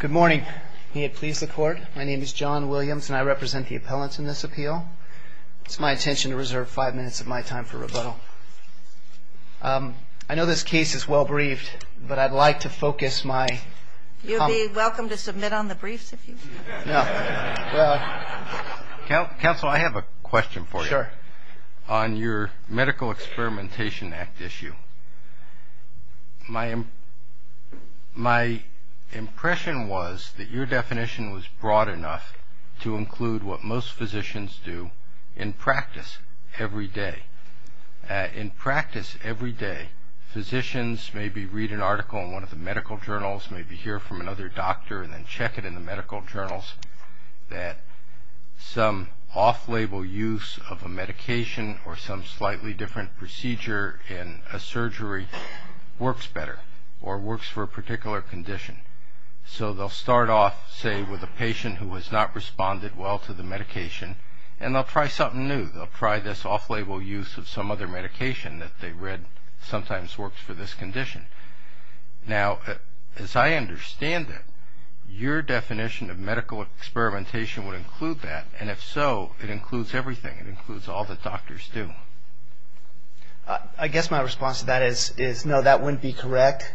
Good morning. May it please the Court, my name is John Williams and I represent the appellants in this appeal. It's my intention to reserve five minutes of my time for rebuttal. I know this case is well-briefed, but I'd like to focus my... You'd be welcome to submit on the briefs if you'd like. Sure. On your Medical Experimentation Act issue, my impression was that your definition was broad enough to include what most physicians do in practice every day. In practice every day, physicians maybe read an article in one of the medical journals, maybe hear from another doctor and then check it in the medical journals, that some off-label use of a medication or some slightly different procedure in a surgery works better or works for a particular condition. So they'll start off, say, with a patient who has not responded well to the medication and they'll try something new. They'll try this off-label use of some other medication that they read sometimes works for this condition. Now, as I understand it, your definition of medical experimentation would include that, and if so, it includes everything. It includes all that doctors do. I guess my response to that is no, that wouldn't be correct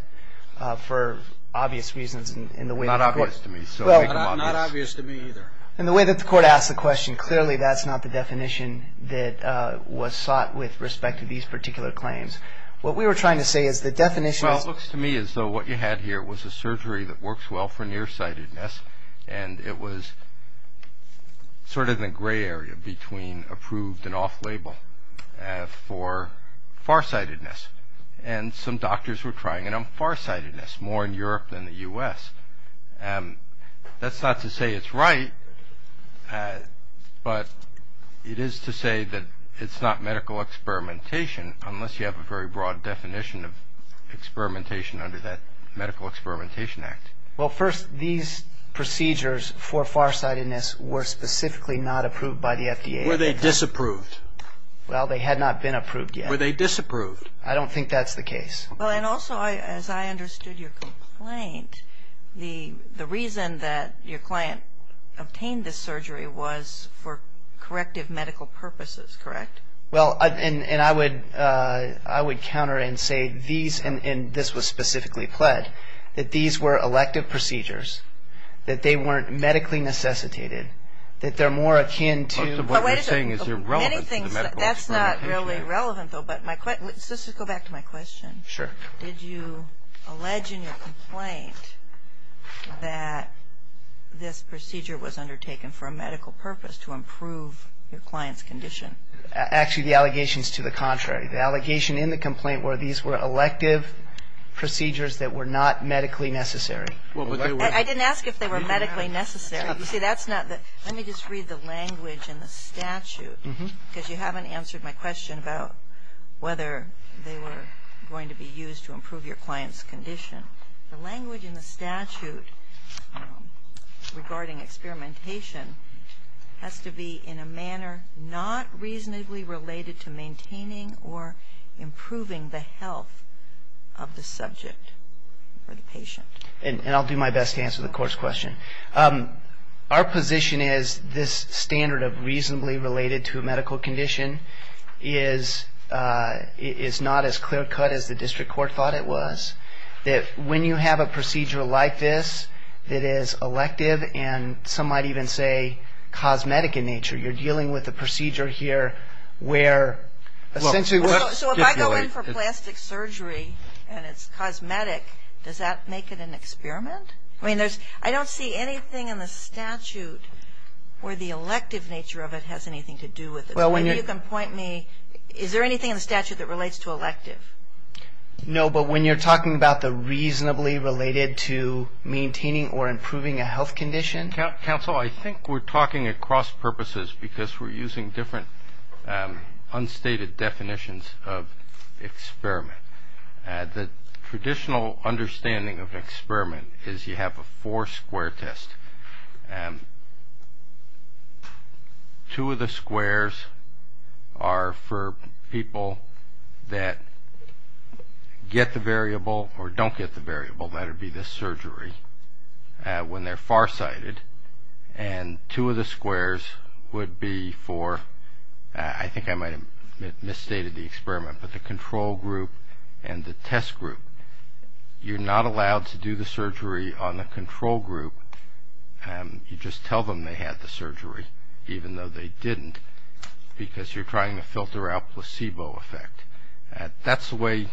for obvious reasons. Not obvious to me, so make them obvious. Not obvious to me either. In the way that the Court asked the question, clearly that's not the definition that was sought with respect to these particular claims. What we were trying to say is the definition is... Well, it looks to me as though what you had here was a surgery that works well for nearsightedness and it was sort of in the gray area between approved and off-label for farsightedness. And some doctors were trying it on farsightedness, more in Europe than the U.S. That's not to say it's right, but it is to say that it's not medical experimentation unless you have a very broad definition of experimentation under that Medical Experimentation Act. Well, first, these procedures for farsightedness were specifically not approved by the FDA. Were they disapproved? Well, they had not been approved yet. Were they disapproved? I don't think that's the case. Well, and also, as I understood your complaint, the reason that your client obtained this surgery was for corrective medical purposes, correct? Well, and I would counter and say these, and this was specifically pled, that these were elective procedures, that they weren't medically necessitated, that they're more akin to... Most of what you're saying is irrelevant to medical experimentation. That's not really relevant, though. But let's just go back to my question. Sure. Did you allege in your complaint that this procedure was undertaken for a medical purpose to improve your client's condition? Actually, the allegation is to the contrary. The allegation in the complaint were these were elective procedures that were not medically necessary. I didn't ask if they were medically necessary. You see, that's not the... Let me just read the language in the statute, because you haven't answered my question about whether they were going to be used to improve your client's condition. The language in the statute regarding experimentation has to be in a manner not reasonably related to maintaining or improving the health of the subject or the patient. And I'll do my best to answer the court's question. Our position is this standard of reasonably related to a medical condition is not as clear cut as the district court thought it was, that when you have a procedure like this that is elective and some might even say cosmetic in nature, you're dealing with a procedure here where essentially... So if I go in for plastic surgery and it's cosmetic, does that make it an experiment? I mean, I don't see anything in the statute where the elective nature of it has anything to do with it. Maybe you can point me, is there anything in the statute that relates to elective? No, but when you're talking about the reasonably related to maintaining or improving a health condition... Counsel, I think we're talking across purposes because we're using different unstated definitions of experiment. The traditional understanding of an experiment is you have a four-square test. Two of the squares are for people that get the variable or don't get the variable, that would be the surgery, when they're farsighted. And two of the squares would be for, I think I might have misstated the experiment, but the control group and the test group. You're not allowed to do the surgery on the control group. You just tell them they had the surgery, even though they didn't, because you're trying to filter out placebo effect. That's the way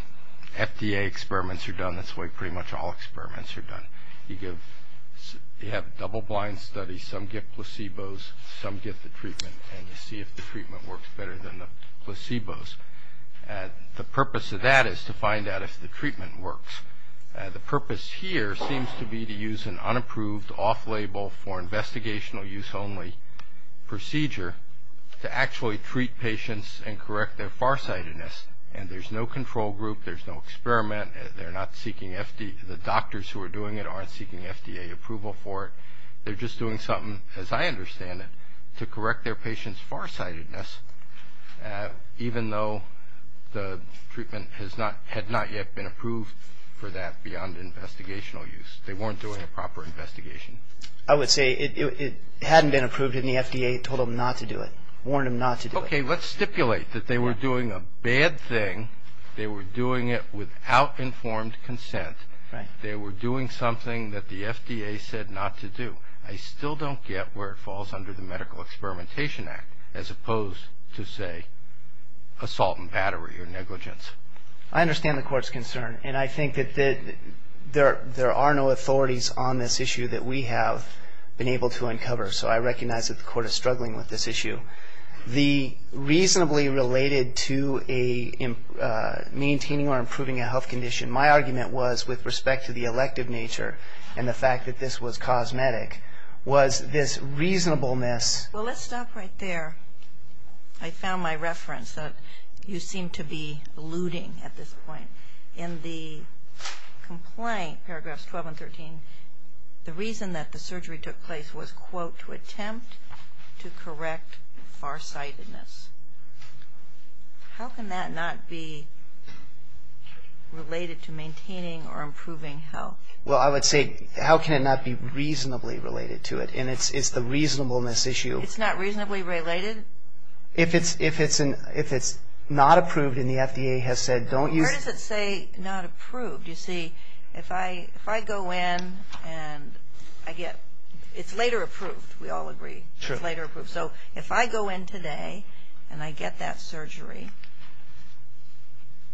FDA experiments are done. That's the way pretty much all experiments are done. You have double-blind studies. Some get placebos, some get the treatment, and you see if the treatment works better than the placebos. The purpose of that is to find out if the treatment works. The purpose here seems to be to use an unapproved off-label for investigational use only procedure to actually treat patients and correct their farsightedness. And there's no control group. There's no experiment. The doctors who are doing it aren't seeking FDA approval for it. They're just doing something, as I understand it, to correct their patient's farsightedness, even though the treatment had not yet been approved for that beyond investigational use. They weren't doing a proper investigation. I would say it hadn't been approved, and the FDA told them not to do it, warned them not to do it. Okay, let's stipulate that they were doing a bad thing. They were doing it without informed consent. They were doing something that the FDA said not to do. I still don't get where it falls under the Medical Experimentation Act, as opposed to, say, assault and battery or negligence. I understand the Court's concern, and I think that there are no authorities on this issue that we have been able to uncover. So I recognize that the Court is struggling with this issue. The reasonably related to maintaining or improving a health condition, my argument was, with respect to the elective nature and the fact that this was cosmetic, was this reasonableness. Well, let's stop right there. I found my reference that you seem to be alluding at this point. In the complaint, paragraphs 12 and 13, the reason that the surgery took place was, quote, to attempt to correct farsightedness. How can that not be related to maintaining or improving health? Well, I would say, how can it not be reasonably related to it? And it's the reasonableness issue. It's not reasonably related? If it's not approved and the FDA has said, don't use it. Where does it say not approved? You see, if I go in and I get, it's later approved, we all agree. It's later approved. So if I go in today and I get that surgery,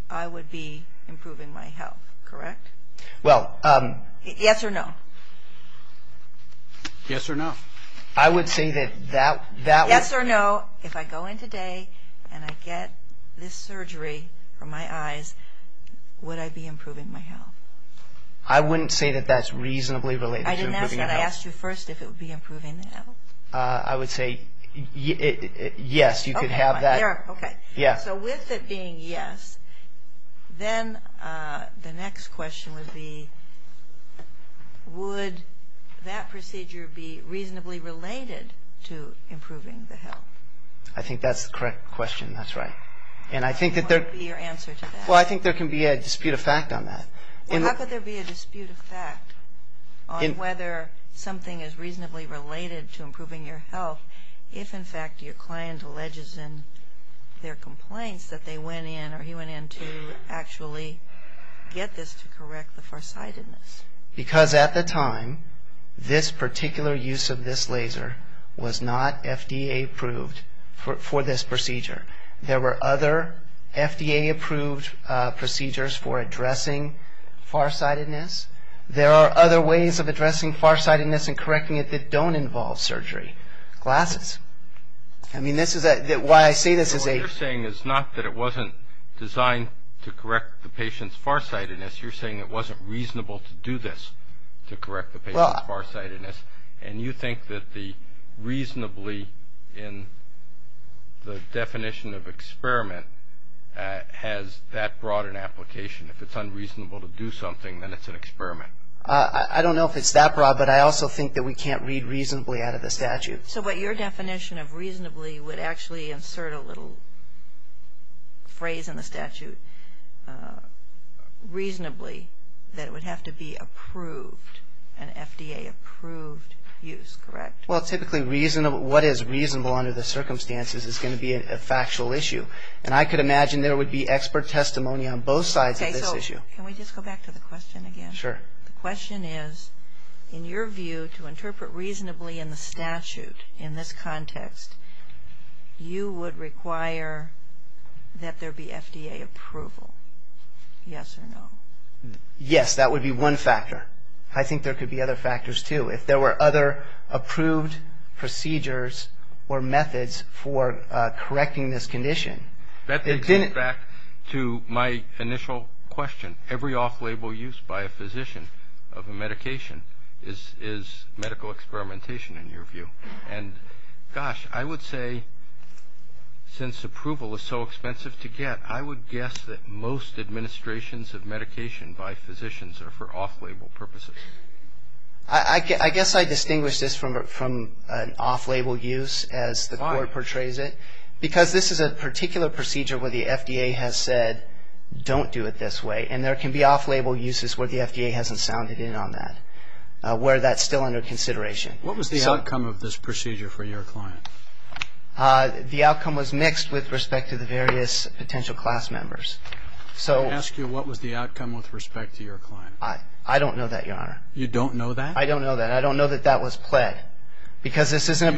I would be improving my health, correct? Well. Yes or no? Yes or no. I would say that that would. Yes or no, if I go in today and I get this surgery for my eyes, would I be improving my health? I wouldn't say that that's reasonably related to improving health. I didn't ask that. I asked you first if it would be improving the health. I would say yes. You could have that. Okay. So with it being yes, then the next question would be, would that procedure be reasonably related to improving the health? I think that's the correct question. That's right. And I think that there. What would be your answer to that? Well, I think there can be a dispute of fact on that. How could there be a dispute of fact on whether something is reasonably related to improving your health if, in fact, your client alleges in their complaints that they went in or he went in to actually get this to correct the farsightedness? Because at the time, this particular use of this laser was not FDA approved for this procedure. There were other FDA approved procedures for addressing farsightedness. There are other ways of addressing farsightedness and correcting it that don't involve surgery. Glasses. I mean, this is why I say this is a... What you're saying is not that it wasn't designed to correct the patient's farsightedness. You're saying it wasn't reasonable to do this to correct the patient's farsightedness. And you think that the reasonably in the definition of experiment has that broad an application. If it's unreasonable to do something, then it's an experiment. I don't know if it's that broad, but I also think that we can't read reasonably out of the statute. So what your definition of reasonably would actually insert a little phrase in the statute, reasonably, that it would have to be approved, an FDA approved use, correct? Well, typically what is reasonable under the circumstances is going to be a factual issue. And I could imagine there would be expert testimony on both sides of this issue. Okay, so can we just go back to the question again? Sure. The question is, in your view, to interpret reasonably in the statute in this context, you would require that there be FDA approval. Yes or no? Yes, that would be one factor. I think there could be other factors, too. If there were other approved procedures or methods for correcting this condition. That takes us back to my initial question. Every off-label use by a physician of a medication is medical experimentation, in your view. And, gosh, I would say, since approval is so expensive to get, I would guess that most administrations of medication by physicians are for off-label purposes. I guess I distinguish this from an off-label use, as the Court portrays it, because this is a particular procedure where the FDA has said, don't do it this way. And there can be off-label uses where the FDA hasn't sounded in on that, where that's still under consideration. What was the outcome of this procedure for your client? The outcome was mixed with respect to the various potential class members. Let me ask you, what was the outcome with respect to your client? I don't know that, Your Honor. You don't know that? I don't know that. I don't know that that was pled. You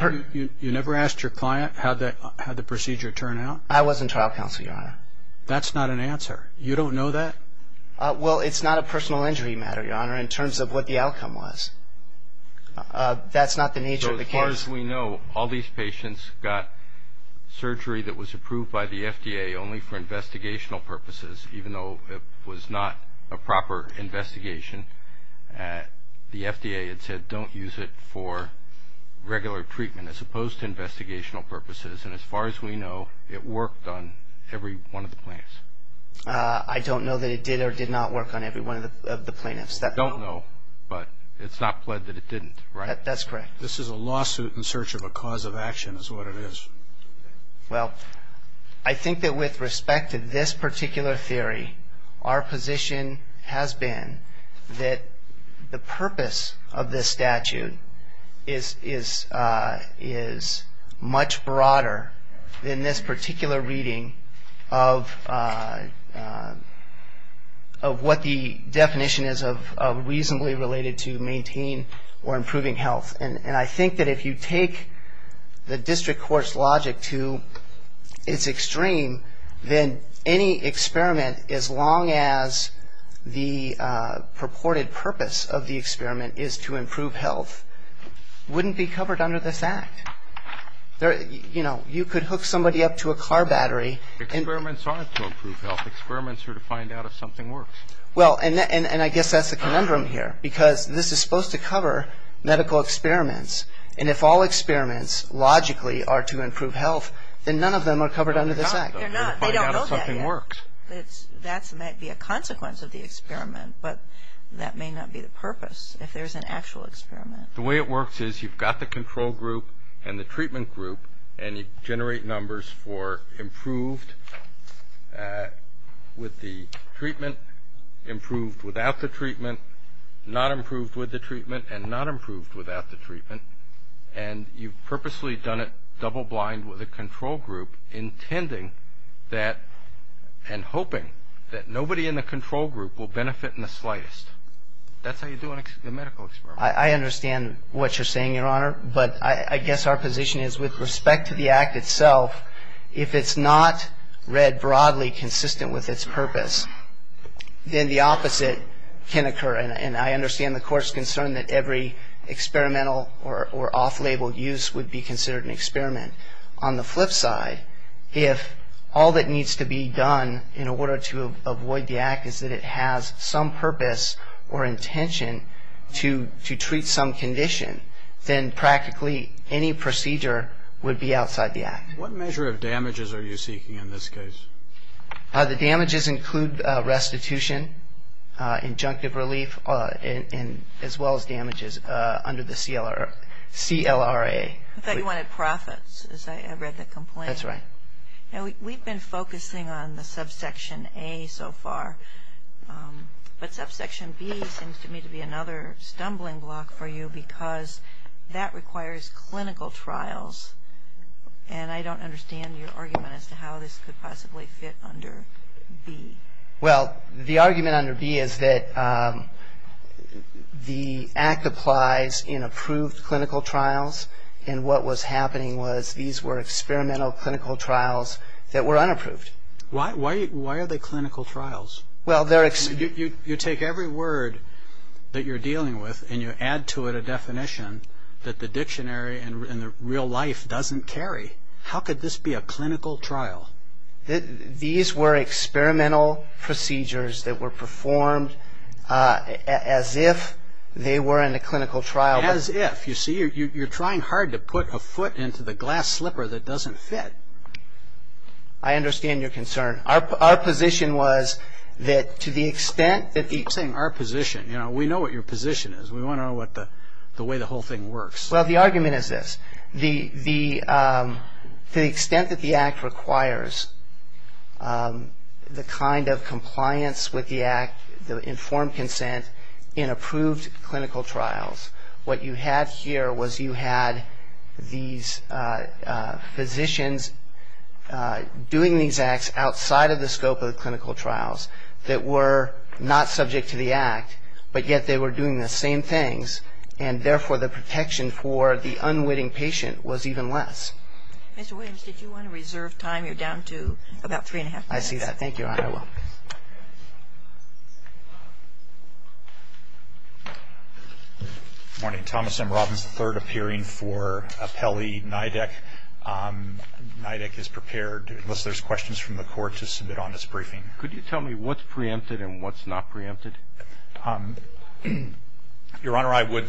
never asked your client how the procedure turned out? I was in trial counsel, Your Honor. That's not an answer. You don't know that? Well, it's not a personal injury matter, Your Honor, in terms of what the outcome was. That's not the nature of the case. So as far as we know, all these patients got surgery that was approved by the FDA only for investigational purposes, even though it was not a proper investigation. The FDA had said, don't use it for regular treatment, as opposed to investigational purposes. And as far as we know, it worked on every one of the plans. I don't know that it did or did not work on every one of the plaintiffs. You don't know, but it's not pled that it didn't, right? That's correct. This is a lawsuit in search of a cause of action, is what it is. Well, I think that with respect to this particular theory, our position has been that the purpose of this statute is much broader than this particular reading of what the definition is of reasonably related to maintain or improving health. And I think that if you take the district court's logic to its extreme, then any experiment, as long as the purported purpose of the experiment is to improve health, wouldn't be covered under this act. You know, you could hook somebody up to a car battery. Experiments aren't to improve health. Experiments are to find out if something works. Well, and I guess that's the conundrum here, because this is supposed to cover medical experiments. And if all experiments logically are to improve health, then none of them are covered under this act. No, they're not. They don't know that yet. To find out if something works. That might be a consequence of the experiment, but that may not be the purpose if there's an actual experiment. The way it works is you've got the control group and the treatment group, and you generate numbers for improved with the treatment, improved without the treatment, not improved with the treatment, and not improved without the treatment. And you've purposely done it double blind with the control group, intending that and hoping that nobody in the control group will benefit in the slightest. That's how you do a medical experiment. I understand what you're saying, Your Honor. But I guess our position is with respect to the act itself, if it's not read broadly consistent with its purpose, then the opposite can occur. And I understand the Court's concern that every experimental or off-label use would be considered an experiment. On the flip side, if all that needs to be done in order to avoid the act is that it has some purpose or intention to treat some condition, then practically any procedure would be outside the act. What measure of damages are you seeking in this case? The damages include restitution, injunctive relief, as well as damages under the CLRA. I thought you wanted profits, as I read the complaint. That's right. We've been focusing on the subsection A so far, but subsection B seems to me to be another stumbling block for you because that requires clinical trials. And I don't understand your argument as to how this could possibly fit under B. Well, the argument under B is that the act applies in approved clinical trials, and what was happening was these were experimental clinical trials that were unapproved. Why are they clinical trials? You take every word that you're dealing with and you add to it a definition that the dictionary in real life doesn't carry. How could this be a clinical trial? These were experimental procedures that were performed as if they were in a clinical trial. As if. You see, you're trying hard to put a foot into the glass slipper that doesn't fit. I understand your concern. Our position was that to the extent that the… Stop saying our position. We know what your position is. We want to know the way the whole thing works. Well, the argument is this. To the extent that the act requires the kind of compliance with the act, the informed consent in approved clinical trials, what you had here was you had these physicians doing these acts outside of the scope of the clinical trials that were not subject to the act, but yet they were doing the same things, and therefore the protection for the unwitting patient was even less. Mr. Williams, did you want to reserve time? You're down to about three and a half minutes. I see that. Thank you, Your Honor. I will. Good morning. Thomas M. Robbins, the third appearing for appellee NIDAC. NIDAC is prepared, unless there's questions from the court, to submit on this briefing. Could you tell me what's preempted and what's not preempted? Your Honor, I would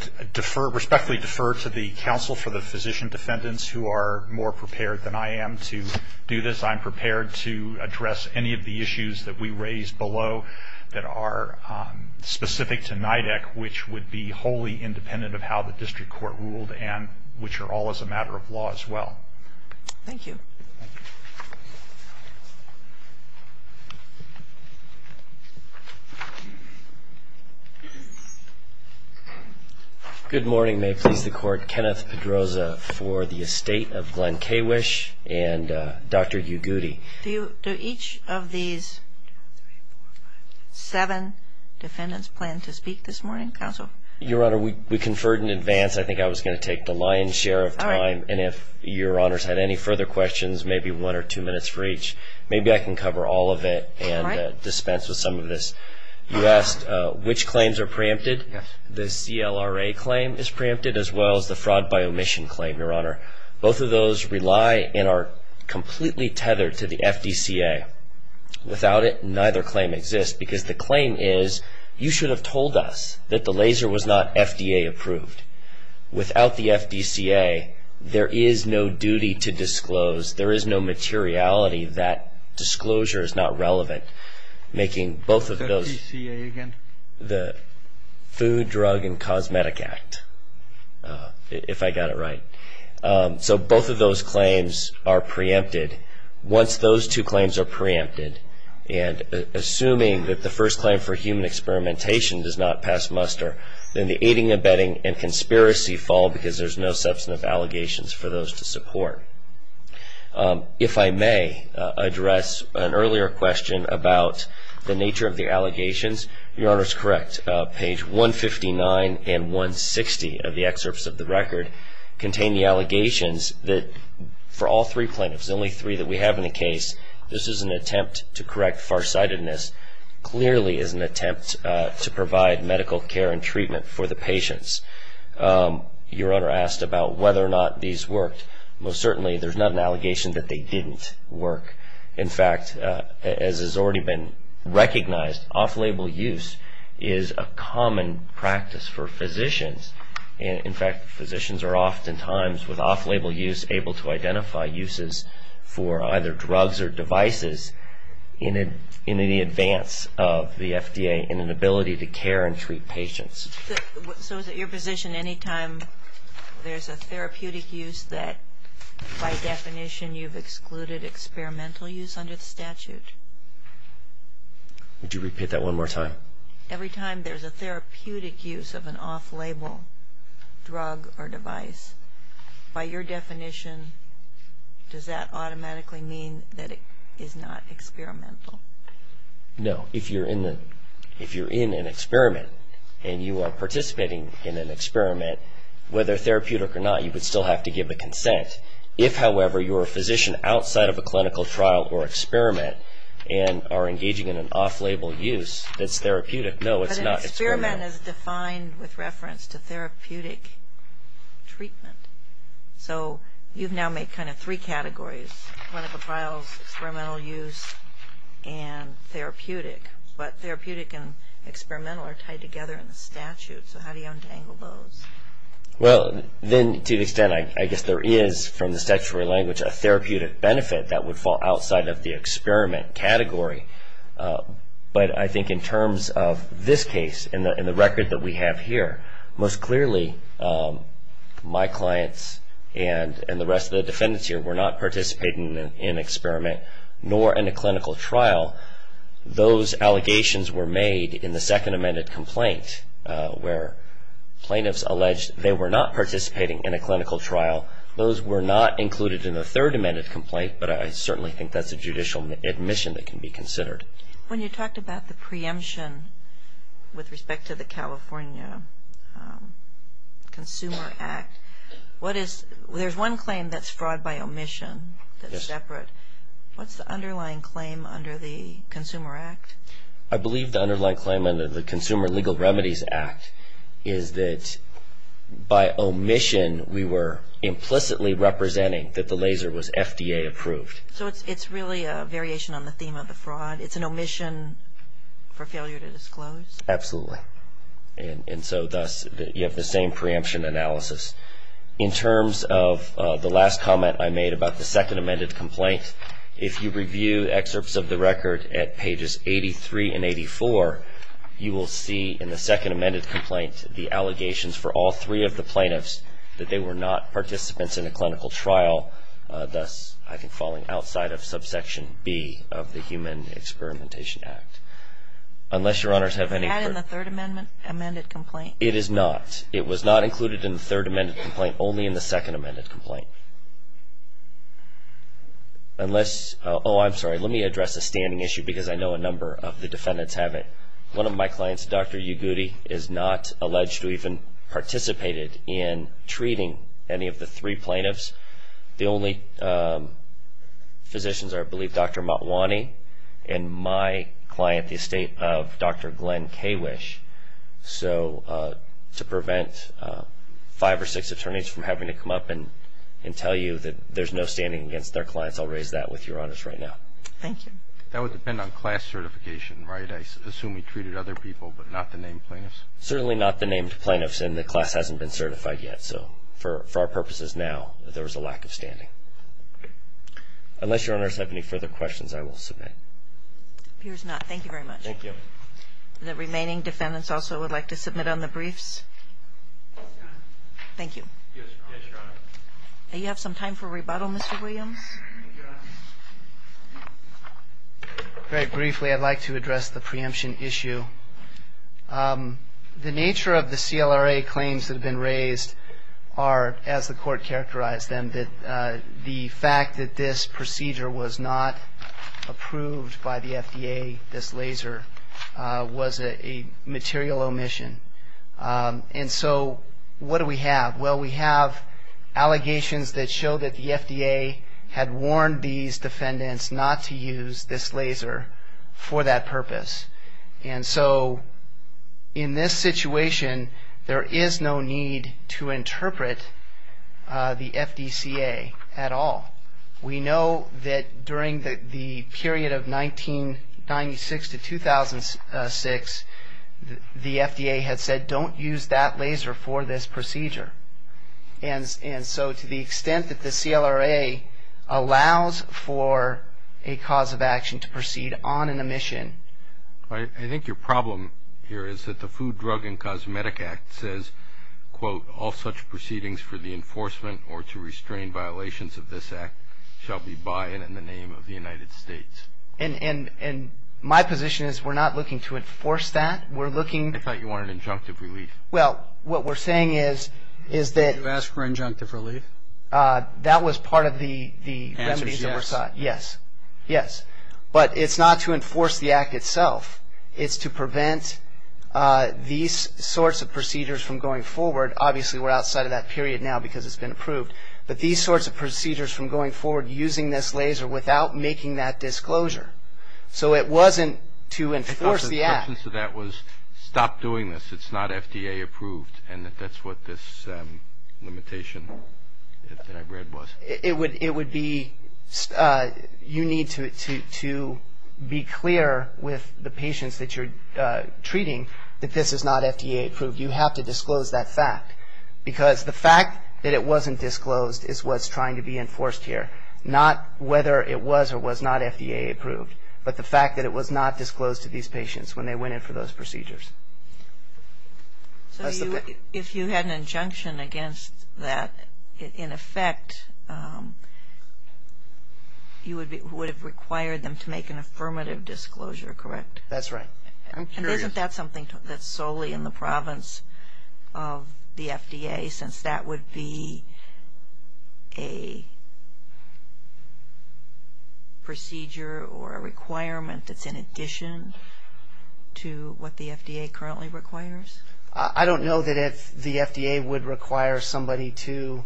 respectfully defer to the counsel for the physician defendants who are more prepared than I am to do this. I'm prepared to address any of the issues that we raised below that are specific to NIDAC, which would be wholly independent of how the district court ruled Thank you. Good morning. May it please the Court. Kenneth Pedroza for the estate of Glenn Kawish and Dr. Ugooty. Do each of these seven defendants plan to speak this morning, counsel? Your Honor, we conferred in advance. I think I was going to take the lion's share of time. And if Your Honor's had any further questions, maybe one or two minutes for each. Maybe I can cover all of it and dispense with some of this. You asked which claims are preempted. The CLRA claim is preempted as well as the fraud by omission claim, Your Honor. Both of those rely and are completely tethered to the FDCA. Without it, neither claim exists because the claim is, you should have told us that the laser was not FDA approved. Without the FDCA, there is no duty to disclose. There is no materiality. That disclosure is not relevant, making both of those. The FDCA again? The Food, Drug, and Cosmetic Act, if I got it right. So both of those claims are preempted. Once those two claims are preempted, and assuming that the first claim for human experimentation does not pass muster, then the aiding, abetting, and conspiracy fall because there's no substantive allegations for those to support. If I may address an earlier question about the nature of the allegations. Your Honor is correct. Page 159 and 160 of the excerpts of the record contain the allegations that for all three plaintiffs, the only three that we have in the case, this is an attempt to correct farsightedness. This clearly is an attempt to provide medical care and treatment for the patients. Your Honor asked about whether or not these worked. Most certainly, there's not an allegation that they didn't work. In fact, as has already been recognized, off-label use is a common practice for physicians. In fact, physicians are oftentimes, with off-label use, able to identify uses for either drugs or devices in any advance of the FDA in an ability to care and treat patients. So is it your position anytime there's a therapeutic use that, by definition, you've excluded experimental use under the statute? Would you repeat that one more time? Every time there's a therapeutic use of an off-label drug or device, by your definition, does that automatically mean that it is not experimental? No. If you're in an experiment and you are participating in an experiment, whether therapeutic or not, you would still have to give a consent. If, however, you're a physician outside of a clinical trial or experiment and are engaging in an off-label use that's therapeutic, no, it's not experimental. Experiment is defined with reference to therapeutic treatment. So you've now made kind of three categories, clinical trials, experimental use, and therapeutic. But therapeutic and experimental are tied together in the statute. So how do you untangle those? Well, then, to an extent, I guess there is, from the statutory language, a therapeutic benefit that would fall outside of the experiment category. But I think in terms of this case and the record that we have here, most clearly my clients and the rest of the defendants here were not participating in an experiment nor in a clinical trial. Those allegations were made in the second amended complaint where plaintiffs alleged they were not participating in a clinical trial. Those were not included in the third amended complaint, but I certainly think that's a judicial admission that can be considered. When you talked about the preemption with respect to the California Consumer Act, there's one claim that's fraud by omission that's separate. What's the underlying claim under the Consumer Act? I believe the underlying claim under the Consumer Legal Remedies Act is that by omission we were implicitly representing that the laser was FDA approved. So it's really a variation on the theme of the fraud. It's an omission for failure to disclose? Absolutely. And so, thus, you have the same preemption analysis. In terms of the last comment I made about the second amended complaint, if you review excerpts of the record at pages 83 and 84, you will see in the second amended complaint the allegations for all three of the plaintiffs that they were not participants in a clinical trial, thus falling outside of subsection B of the Human Experimentation Act. Had it been in the third amended complaint? It is not. It was not included in the third amended complaint, only in the second amended complaint. Oh, I'm sorry. Let me address a standing issue because I know a number of the defendants have it. One of my clients, Dr. Ugudi, is not alleged to have even participated in treating any of the three plaintiffs. The only physicians are, I believe, Dr. Motwani and my client, the estate of Dr. Glenn Kawish. So to prevent five or six attorneys from having to come up and tell you that there's no standing against their clients, I'll raise that with Your Honors right now. Thank you. That would depend on class certification, right? I assume he treated other people but not the named plaintiffs? Certainly not the named plaintiffs, and the class hasn't been certified yet. So for our purposes now, there was a lack of standing. Unless Your Honors have any further questions, I will submit. Appears not. Thank you very much. Thank you. The remaining defendants also would like to submit on the briefs? Yes, Your Honor. Thank you. Yes, Your Honor. You have some time for rebuttal, Mr. Williams. Thank you, Your Honor. Very briefly, I'd like to address the preemption issue. The nature of the CLRA claims that have been raised are, as the court characterized them, the fact that this procedure was not approved by the FDA, this laser, was a material omission. And so what do we have? Well, we have allegations that show that the FDA had warned these defendants not to use this laser for that purpose. And so in this situation, there is no need to interpret the FDCA at all. We know that during the period of 1996 to 2006, the FDA had said don't use that laser for this procedure. And so to the extent that the CLRA allows for a cause of action to proceed on an omission. I think your problem here is that the Food, Drug, and Cosmetic Act says, quote, all such proceedings for the enforcement or to restrain violations of this act shall be by and in the name of the United States. And my position is we're not looking to enforce that. I thought you wanted an injunctive relief. Well, what we're saying is that. Did you ask for injunctive relief? That was part of the remedies that were sought. Yes. Yes. But it's not to enforce the act itself. It's to prevent these sorts of procedures from going forward. Obviously, we're outside of that period now because it's been approved. But these sorts of procedures from going forward using this laser without making that disclosure. So it wasn't to enforce the act. The substance of that was stop doing this. It's not FDA approved. And that's what this limitation that I read was. It would be you need to be clear with the patients that you're treating that this is not FDA approved. You have to disclose that fact. Because the fact that it wasn't disclosed is what's trying to be enforced here, not whether it was or was not FDA approved, but the fact that it was not disclosed to these patients when they went in for those procedures. So if you had an injunction against that, in effect, you would have required them to make an affirmative disclosure, correct? I'm curious. Isn't that something that's solely in the province of the FDA since that would be a procedure or a requirement that's in addition to what the FDA currently requires? I don't know that the FDA would require somebody to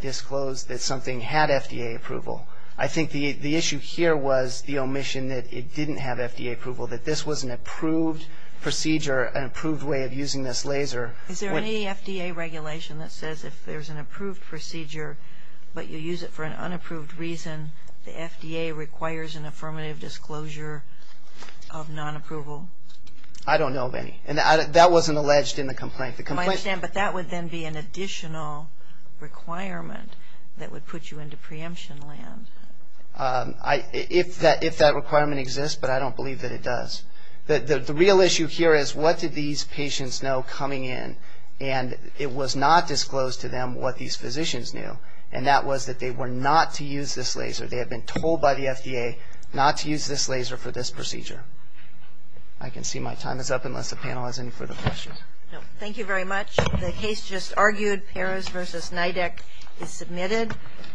disclose that something had FDA approval. I think the issue here was the omission that it didn't have FDA approval, that this was an approved procedure, an approved way of using this laser. Is there any FDA regulation that says if there's an approved procedure, but you use it for an unapproved reason, the FDA requires an affirmative disclosure of non-approval? I don't know of any. And that wasn't alleged in the complaint. I understand, but that would then be an additional requirement that would put you into preemption land. If that requirement exists, but I don't believe that it does. The real issue here is what did these patients know coming in, and it was not disclosed to them what these physicians knew, and that was that they were not to use this laser. They had been told by the FDA not to use this laser for this procedure. I can see my time is up unless the panel has any further questions. Thank you very much. The case just argued, Perez v. Nidek, is submitted.